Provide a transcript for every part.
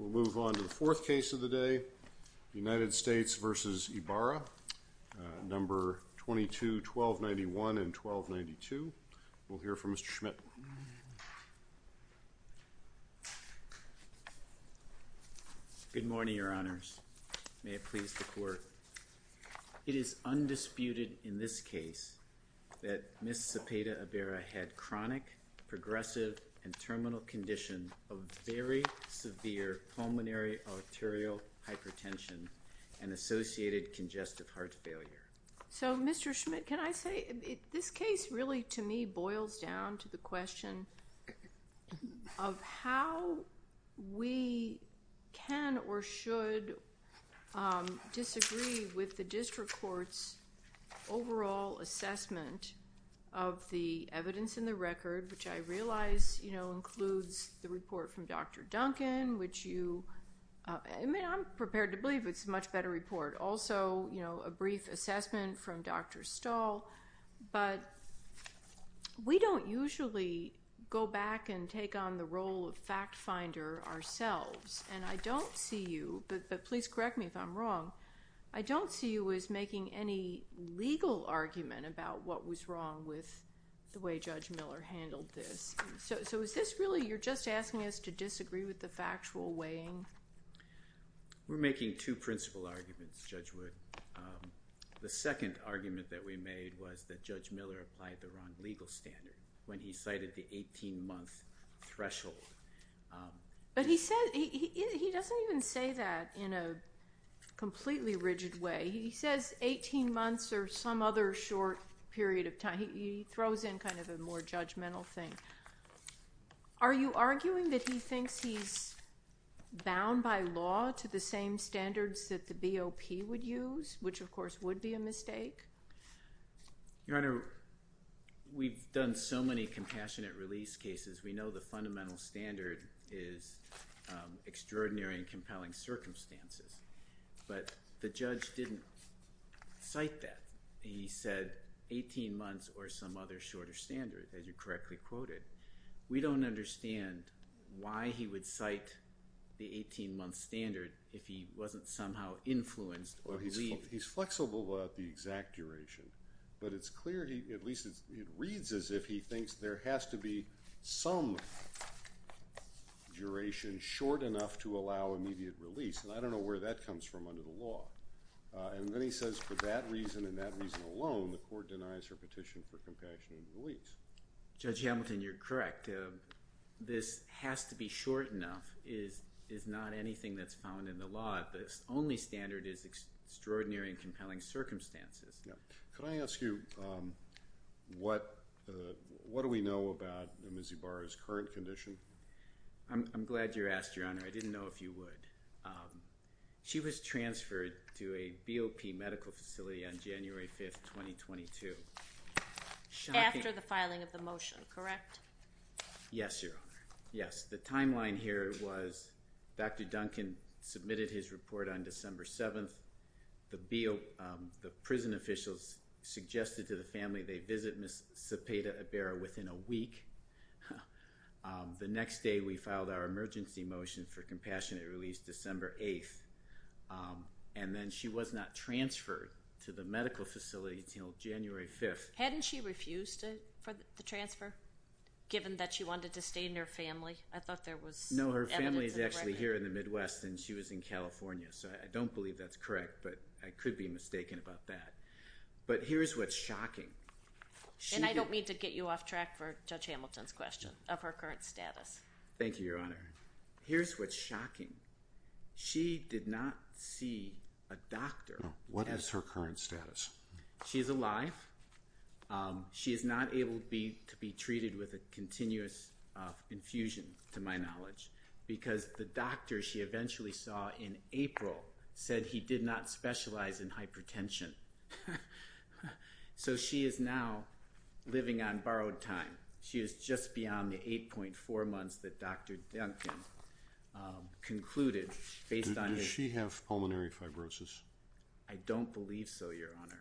22-1291 and 1292. We'll hear from Mr. Schmidt. Good morning, Your Honors. May it please the Court. It is undisputed in this case that Ms. Cepeda Ibarra had chronic, progressive, and terminal condition of very severe pulmonary arterial hypertension and associated congestive heart failure. So Mr. Schmidt, can I say, this case really to me boils down to the question of how we can or should disagree with the district court's overall assessment of the evidence in the record, which I realize includes the report from Dr. Duncan, which you, I mean, I'm prepared to believe it's a much better report. Also, a brief assessment from Dr. Stahl, but we don't usually go back and take on the role of fact finder ourselves, and I don't see you, but please correct me if I'm wrong, I don't see you as making any legal argument about what was wrong with the way Judge Miller handled this. So is this really, you're just asking us to disagree with the factual weighing? We're making two principal arguments, Judge Wood. The second argument that we made was that Judge Miller applied the wrong legal standard when he cited the 18-month threshold. But he said, he doesn't even say that in a completely rigid way. He says 18 months or some other short period of time. He throws in kind of a more judgmental thing. Are you arguing that he thinks he's bound by law to the same standards that the BOP would use, which of course would be a mistake? Your Honor, we've done so many compassionate release cases, we know the fundamental standard is extraordinary and compelling circumstances. But the judge didn't cite that. He said 18 months or some other shorter standard, as you correctly quoted. We don't understand why he would cite the 18-month standard if he wasn't somehow influenced or relieved. He's flexible about the exact duration. But it's clear, at least it reads as if he thinks there has to be some duration short enough to allow immediate release. And I don't know where that comes from under the law. And then he says for that reason and that reason alone, the court denies her petition for compassionate release. Judge Hamilton, you're correct. This has to be short enough is not anything that's found in the law. The only standard is extraordinary and compelling circumstances. Could I ask you, what do we know about Ms. Ibarra's current condition? I'm glad you asked, Your Honor. I didn't know if you would. She was transferred to a BOP medical facility on January 5, 2022. After the filing of the motion, correct? Yes, Your Honor. Yes. The timeline here was Dr. Duncan submitted his report on December 7th. The BOP, the prison officials suggested to the family they visit Ms. Sepeda Ibarra within a week. The next day we filed our emergency motion for compassionate release December 8th. And then she was not transferred to the medical facility until January 5th. Hadn't she refused it for the transfer, given that she wanted to stay in her family? I thought there was evidence of that. No, her family is actually here in the Midwest and she was in California. So I don't believe that's correct, but I could be mistaken about that. But here's what's shocking. And I don't mean to get you off track for Judge Hamilton's question of her current status. Thank you, Your Honor. Here's what's shocking. She did not see a doctor. What is her current status? She's alive. She is not able to be treated with a continuous infusion, to my knowledge, because the doctor she eventually saw in April said he did not specialize in hypertension. So, she is now living on borrowed time. She is just beyond the 8.4 months that Dr. Duncan concluded based on his... Does she have pulmonary fibrosis? I don't believe so, Your Honor.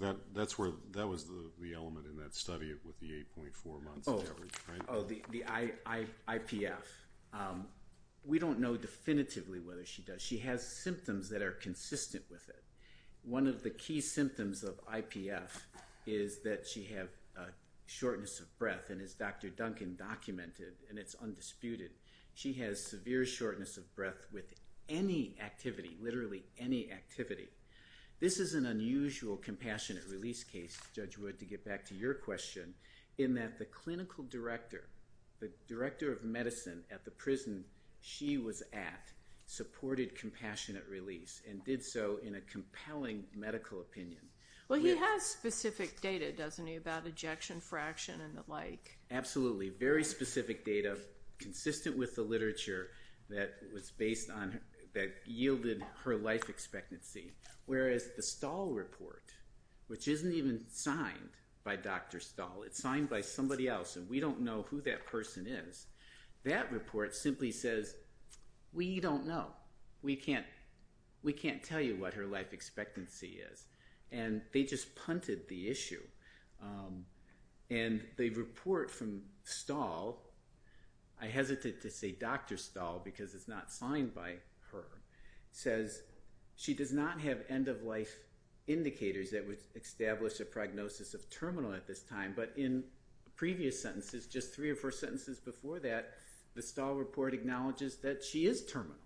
That was the element in that study with the 8.4 months. Oh, the IPF. We don't know definitively whether she does. She has symptoms that are consistent with it. One of the key symptoms of IPF is that she has shortness of breath, and as Dr. Duncan documented, and it's undisputed, she has severe shortness of breath with any activity, literally any activity. This is an unusual compassionate release case, Judge Wood, to get back to your question, in that the clinical director, the director of medicine at the hospital, in a compelling medical opinion... Well, he has specific data, doesn't he, about ejection fraction and the like. Absolutely. Very specific data, consistent with the literature that was based on, that yielded her life expectancy, whereas the Stahl report, which isn't even signed by Dr. Stahl. It's signed by somebody else, and we don't know who that person is. That report simply says, we don't know. We can't tell you what her life expectancy is, and they just punted the issue. The report from Stahl, I hesitate to say Dr. Stahl, because it's not signed by her, says she does not have end of life indicators that would establish a prognosis of terminal at this time, but in previous sentences, just three or four sentences before that, the Stahl report acknowledges that she is terminal,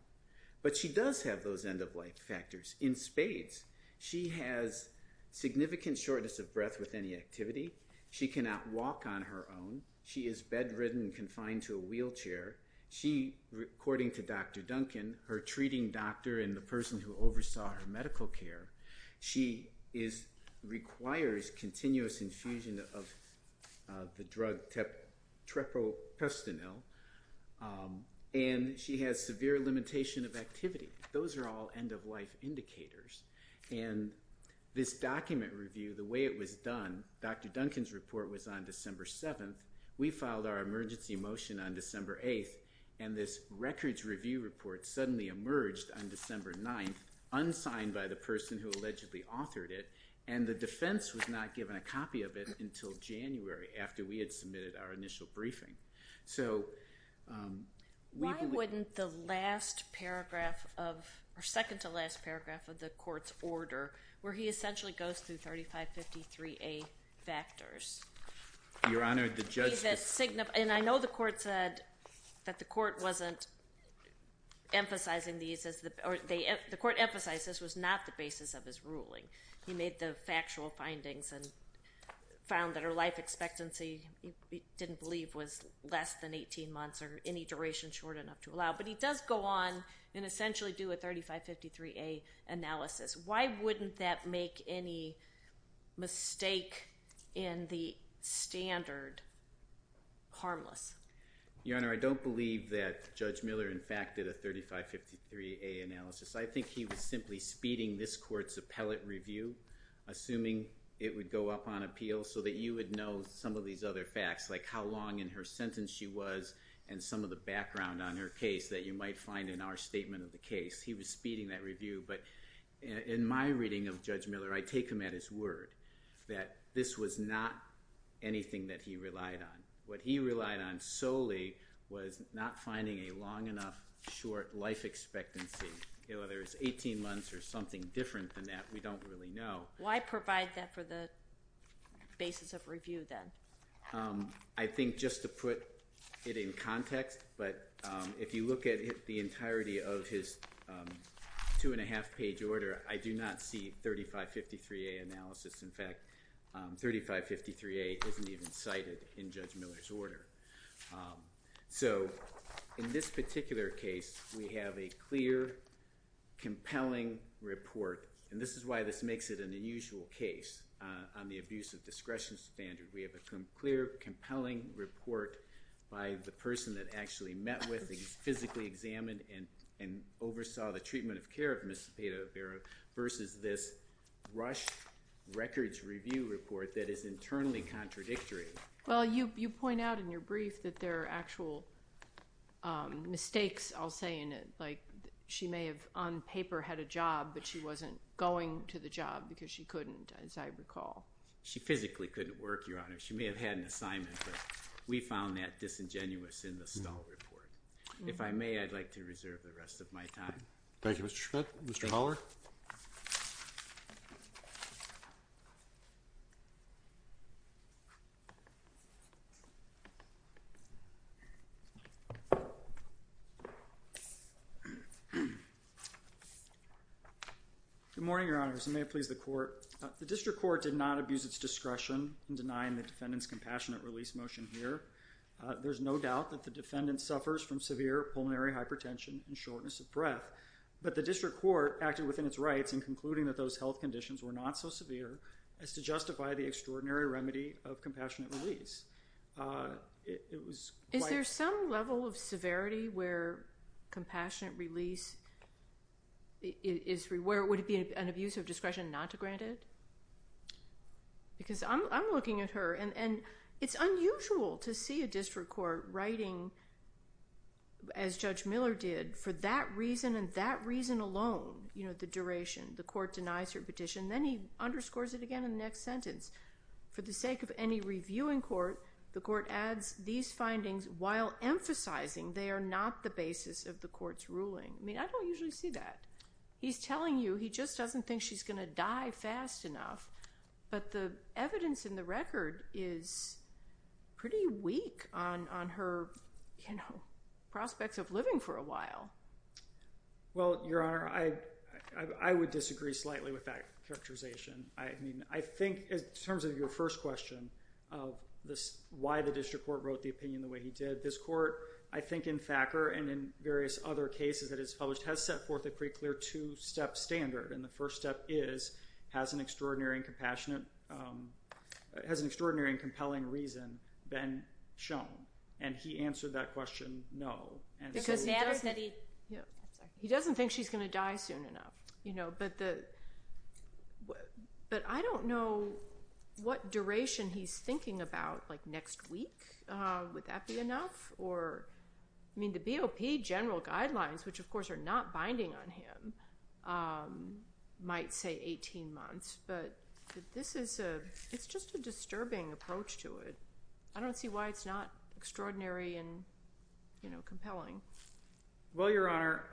but she does have those end of life factors in spades. She has significant shortness of breath with any activity. She cannot walk on her own. She is bedridden, confined to a wheelchair. According to Dr. Duncan, her treating doctor and the person who oversaw her medical care, she requires continuous infusion of the drug trepropestanil, and she has severe limitation of activity. Those are all end of life indicators, and this document review, the way it was done, Dr. Duncan's report was on December 7th. We filed our emergency motion on December 8th, and this records review report suddenly emerged on December 9th, unsigned by the person who had not given a copy of it until January, after we had submitted our initial briefing. Why wouldn't the last paragraph of, or second to last paragraph of the court's order, where he essentially goes through 3553A factors. Your Honor, the judge. And I know the court said that the court wasn't emphasizing these, or the court emphasized this was not the basis of his ruling. He made the factual findings and found that her life expectancy, he didn't believe, was less than 18 months, or any duration short enough to allow. But he does go on and essentially do a 3553A analysis. Why wouldn't that make any mistake in the standard harmless? Your Honor, I don't believe that Judge Miller in fact did a 3553A analysis. I think he was speeding this court's appellate review, assuming it would go up on appeal, so that you would know some of these other facts, like how long in her sentence she was, and some of the background on her case that you might find in our statement of the case. He was speeding that review, but in my reading of Judge Miller, I take him at his word that this was not anything that he relied on. What he relied on solely was not finding a long enough short life expectancy. Whether it's 18 months or something different than that, we don't really know. Why provide that for the basis of review then? I think just to put it in context, but if you look at the entirety of his two and a half page order, I do not see 3553A analysis. In fact, 3553A isn't even cited in Judge Miller's order. So in this particular case, we have a clear compelling report, and this is why this makes it an unusual case on the abuse of discretion standard. We have a clear, compelling report by the person that actually met with and physically examined and oversaw the treatment of care of Ms. Spadavera versus this rushed records review report that is internally contradictory. Well, you point out in your brief that there may have, on paper, had a job, but she wasn't going to the job because she couldn't, as I recall. She physically couldn't work, Your Honor. She may have had an assignment, but we found that disingenuous in the Stahl report. If I may, I'd like to reserve the rest of my time. Thank you, Mr. Schmidt. Mr. Holler? Good morning, Your Honors. May it please the Court. The District Court did not abuse its discretion in denying the defendant's compassionate release motion here. There's no doubt that the defendant suffers from severe pulmonary hypertension and shortness of breath, but the District Court acted within its rights in concluding that those health conditions were not so severe as to justify the extraordinary remedy of compassionate release. It was quite— Would it be an abuse of discretion not to grant it? Because I'm looking at her, and it's unusual to see a District Court writing, as Judge Miller did, for that reason and that reason alone, you know, the duration. The Court denies her petition, then he underscores it again in the next sentence. For the sake of any reviewing Court, the Court adds these findings while emphasizing they are not the basis of the case. I don't see that. He's telling you he just doesn't think she's going to die fast enough, but the evidence in the record is pretty weak on her, you know, prospects of living for a while. Well, Your Honor, I would disagree slightly with that characterization. I mean, I think in terms of your first question of why the District Court wrote the opinion the way he did, this Court, I think in Thacker and in various other cases that it's published, has set forth a pretty clear two-step standard. And the first step is, has an extraordinary and compassionate—has an extraordinary and compelling reason been shown? And he answered that question, no. Because it matters that he— He doesn't think she's going to die soon enough, you know, but the—but I don't know what duration he's thinking about, like next week, would that be enough? Or, I mean, the BOP general guidelines, which of course are not binding on him, might say 18 months, but this is a—it's just a disturbing approach to it. I don't see why it's not extraordinary and, you know, compelling. Well, Your Honor,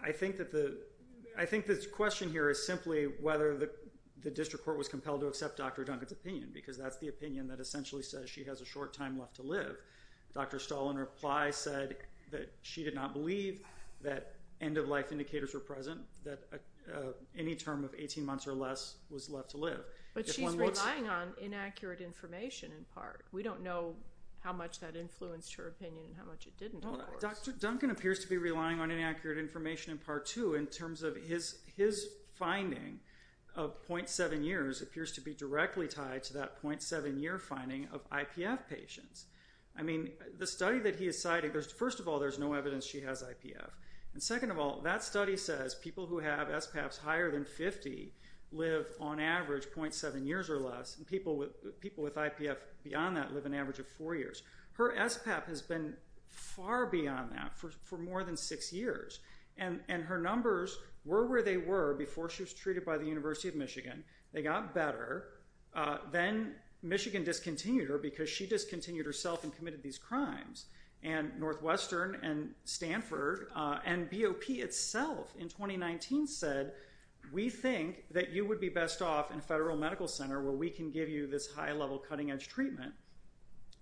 I think that the—I think the question here is simply whether the District Court should accept Dr. Duncan's opinion, because that's the opinion that essentially says she has a short time left to live. Dr. Stahl, in reply, said that she did not believe that end-of-life indicators were present, that any term of 18 months or less was left to live. But she's relying on inaccurate information in part. We don't know how much that influenced her opinion and how much it didn't, of course. Dr. Duncan appears to be relying on inaccurate information in part, too, in terms of his finding of 0.7 years appears to be directly tied to that 0.7-year finding of IPF patients. I mean, the study that he is citing—first of all, there's no evidence she has IPF. And second of all, that study says people who have SPAPs higher than 50 live, on average, 0.7 years or less, and people with IPF beyond that live an average of 4 years. Her SPAP has been far beyond that for more than six years. And her numbers were where they were before she was treated by the University of Michigan. They got better. Then Michigan discontinued her because she discontinued herself and committed these crimes. And Northwestern and Stanford and BOP itself in 2019 said, we think that you would be best off in a federal medical center where we can give you this high-level, cutting-edge treatment.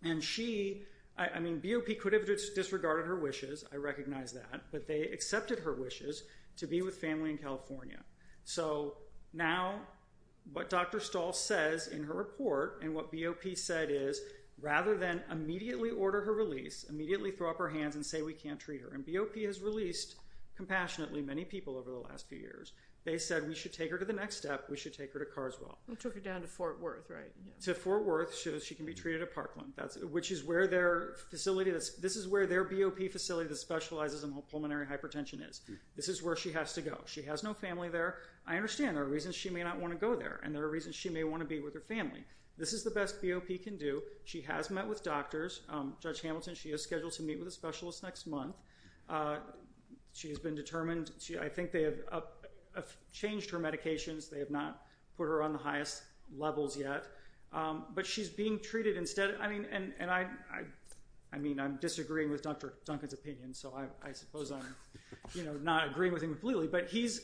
And she—I mean, BOP could have disregarded her wishes. I recognize that. But they accepted her wishes to be with family in California. So now, what Dr. Stahl says in her report and what BOP said is, rather than immediately order her release, immediately throw up our hands and say we can't treat her. And BOP has released, compassionately, many people over the last few years. They said we should take her to the next step. We should take her to Carswell. They took her down to Fort Worth, right? To Fort Worth. She can be treated at Parkland, which is where their facility—this is where their BOP facility that specializes in pulmonary hypertension is. This is where she has to go. She has no family there. I understand there are reasons she may not want to go there. And there are reasons she may want to be with her family. This is the best BOP can do. She has met with doctors. Judge Hamilton, she is scheduled to meet with a specialist next month. She has been determined—I think they have changed her medications. They have not put her on the highest levels yet. But she's being treated instead. I mean, I'm disagreeing with Dr. Duncan's opinion, so I suppose I'm not agreeing with him completely. But he's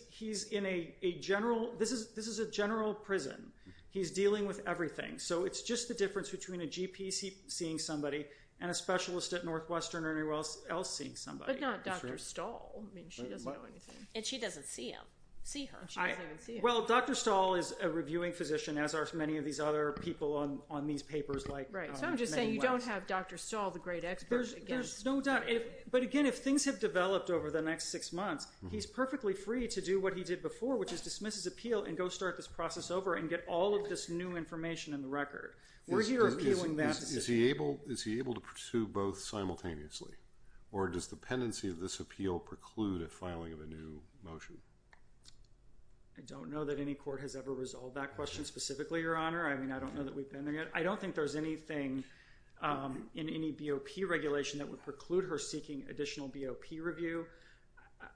in a general—this is a general prison. He's dealing with everything. So it's just the difference between a GP seeing somebody and a specialist at Northwestern or anywhere else seeing somebody. But not Dr. Stahl. I mean, she doesn't know anything. And she doesn't see him. See her. She doesn't even see him. Well, Dr. Stahl is a reviewing physician, as are many of these other people on these papers like— Right. So I'm just saying you don't have Dr. Stahl, the great expert, against— There's no doubt. But again, if things have developed over the next six months, he's perfectly free to do what he did before, which is dismiss his appeal and go start this process over and get all of this new information in the record. We're here appealing that decision. Is he able to pursue both simultaneously? Or does the pendency of this appeal preclude a filing of a new motion? I don't know that any court has ever resolved that question specifically, Your Honor. I mean, I don't know that we've been there yet. I don't think there's anything in any BOP regulation that would preclude her seeking additional BOP review.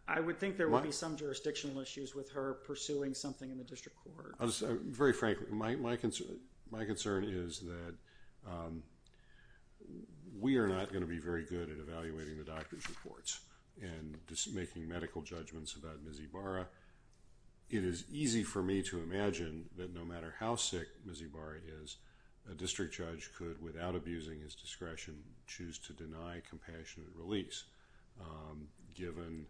I would think there would be some jurisdictional issues with her pursuing something in the district court. Very frankly, my concern is that we are not going to be very good at evaluating the doctor's reports and making medical judgments about Ms. Ibarra. It is easy for me to imagine that no matter how sick Ms. Ibarra is, a district judge could, without abusing his discretion, choose to deny compassionate release, given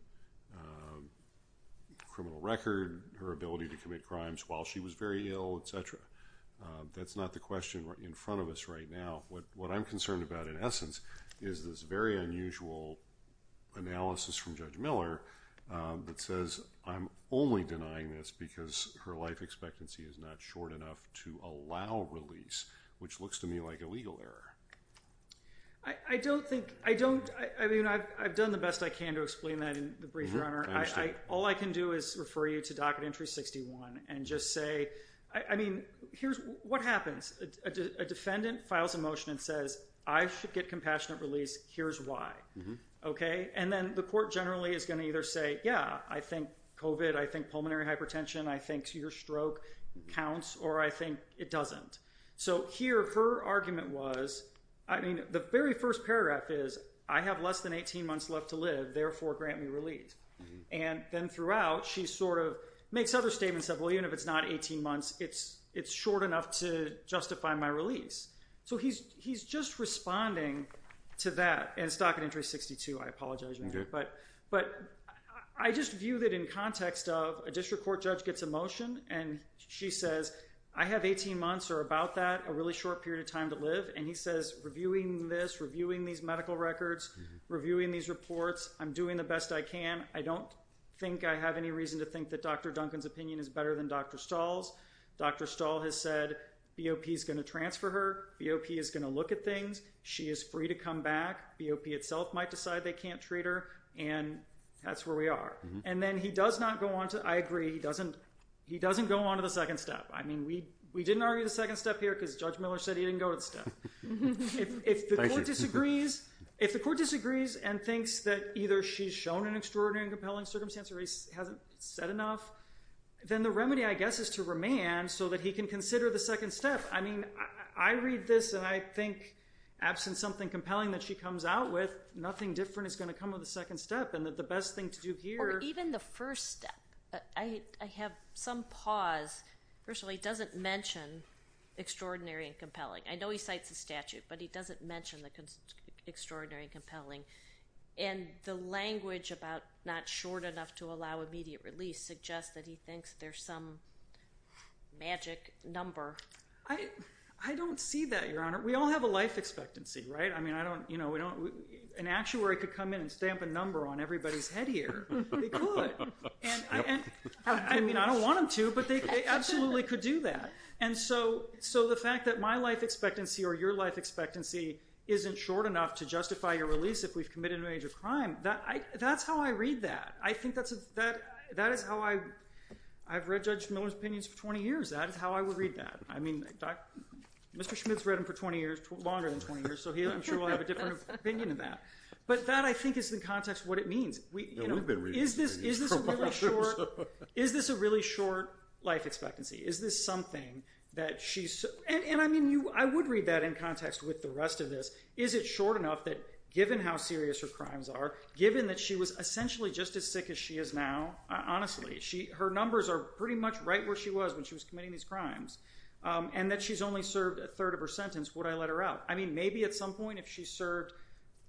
criminal record, her ability to commit crimes while she was very ill, et cetera. That's not the question in front of us right now. What I'm concerned about, in essence, is this very unusual analysis from Judge Miller that says, I'm only denying this because her life expectancy is not short enough to allow release, which looks to me like a legal error. I don't think, I don't, I mean, I've done the best I can to explain that in the brief, Your Honor. I understand. All I can do is refer you to Docket Entry 61 and just say, I mean, here's what happens. A defendant files a motion and says, I should get compassionate release. Here's why. Okay. And then the court generally is going to either say, yeah, I think COVID, I think pulmonary hypertension, I think your stroke counts, or I think it doesn't. So here, her argument was, I mean, the very first paragraph is, I have less than 18 months left to live. Therefore, grant me release. And then throughout, she sort of makes other statements that, well, even if it's not 18 months, it's short enough to justify my release. So he's just responding to that. And it's Docket Entry 62. I apologize, Your Honor. Okay. But I just view that in context of a district court judge gets a motion and she says, I have 18 months or about that, a really short period of time to live. And he says, reviewing this, reviewing these medical records, reviewing these reports, I'm doing the best I can. I don't think I have any reason to think that Dr. Duncan's opinion is better than Dr. Stahl's. Dr. Stahl has said BOP is going to transfer her. BOP is going to look at things. She is free to come back. BOP itself might decide they can't treat her. And that's where we are. And then he does not go on to, I agree, he doesn't go on to the second step. I mean, we didn't argue the second step here because Judge Miller said he didn't go to the second step. If the court disagrees and thinks that either she's shown an extraordinary and compelling circumstance or he hasn't said enough, then the remedy, I guess, is to remand so that he can consider the second step. I mean, I read this and I think, absent something compelling that she comes out with, nothing different is going to come with the second step. And the best thing to do here — Or even the first step. I have some pause. First of all, he doesn't mention extraordinary and compelling. I know he cites the statute, but he doesn't mention the extraordinary and compelling. And the language about not short enough to allow immediate release suggests that he thinks there's some magic number. I don't see that, Your Honor. We all have a life expectancy, right? I mean, an actuary could come in and stamp a number on everybody's head here. They could. I mean, I don't want them to, but they absolutely could do that. And so the fact that my life expectancy or your life expectancy isn't short enough to justify your release if we've committed a major crime, that's how I read that. I think that is how I've read Judge Miller's opinions for 20 years. That is how I would read that. I mean, Mr. Schmidt's read him for 20 years, longer than 20 years, so I'm sure he'll have a different opinion of that. But that, I think, is in context what it means. We've been reading his opinions for a while. Is this a really short life expectancy? Is this something that she's – and, I mean, I would read that in context with the rest of this. Is it short enough that given how serious her crimes are, given that she was essentially just as sick as she is now, honestly, her numbers are pretty much right where she was when she was committing these crimes, and that she's only served a third of her sentence, would I let her out? I mean, maybe at some point if she served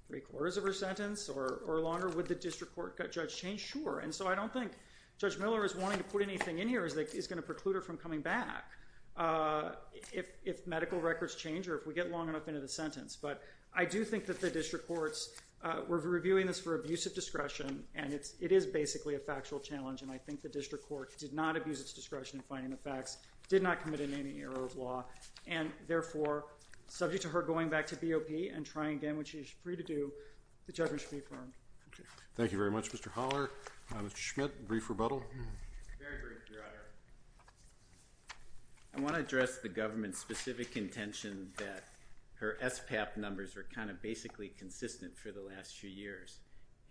three-quarters of her sentence or longer, would the district court judge change? Sure. And so I don't think Judge Miller is wanting to put anything in here that is going to preclude her from coming back if medical records change or if we get long enough into the sentence. But I do think that the district courts – we're reviewing this for abuse of discretion, and it is basically a factual challenge, and I think the district court did not abuse its discretion in finding the facts, did not commit in any error of law, and, therefore, subject to her going back to BOP and trying again what she's free to do, the judgment should be affirmed. Okay. Thank you very much, Mr. Holler. Mr. Schmidt, brief rebuttal. Very brief, Your Honor. I want to address the government's specific intention that her SPAP numbers are kind of basically consistent for the last few years.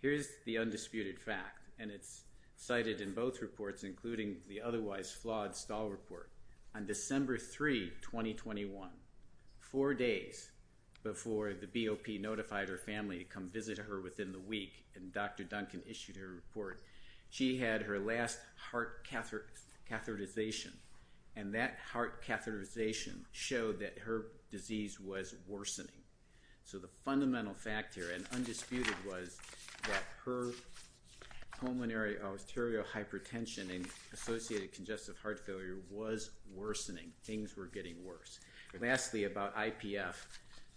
Here's the undisputed fact, and it's cited in both reports, including the otherwise flawed Stahl report. On December 3, 2021, four days before the BOP notified her family to come visit her within the week, and Dr. Duncan issued her report, she had her last heart catheterization, and that heart catheterization showed that her disease was worsening. So the fundamental fact here and undisputed was that her pulmonary arterial hypertension and associated congestive heart failure was worsening, things were getting worse. Lastly, about IPF,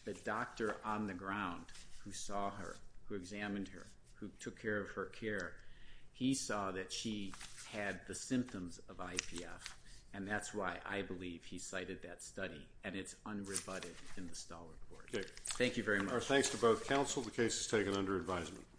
the doctor on the ground who saw her, who examined her, who took care of her care, he saw that she had the symptoms of IPF, and that's why I believe he cited that study, and it's unrebutted in the Stahl report. Okay. Our thanks to both counsel. The case is taken under advisement.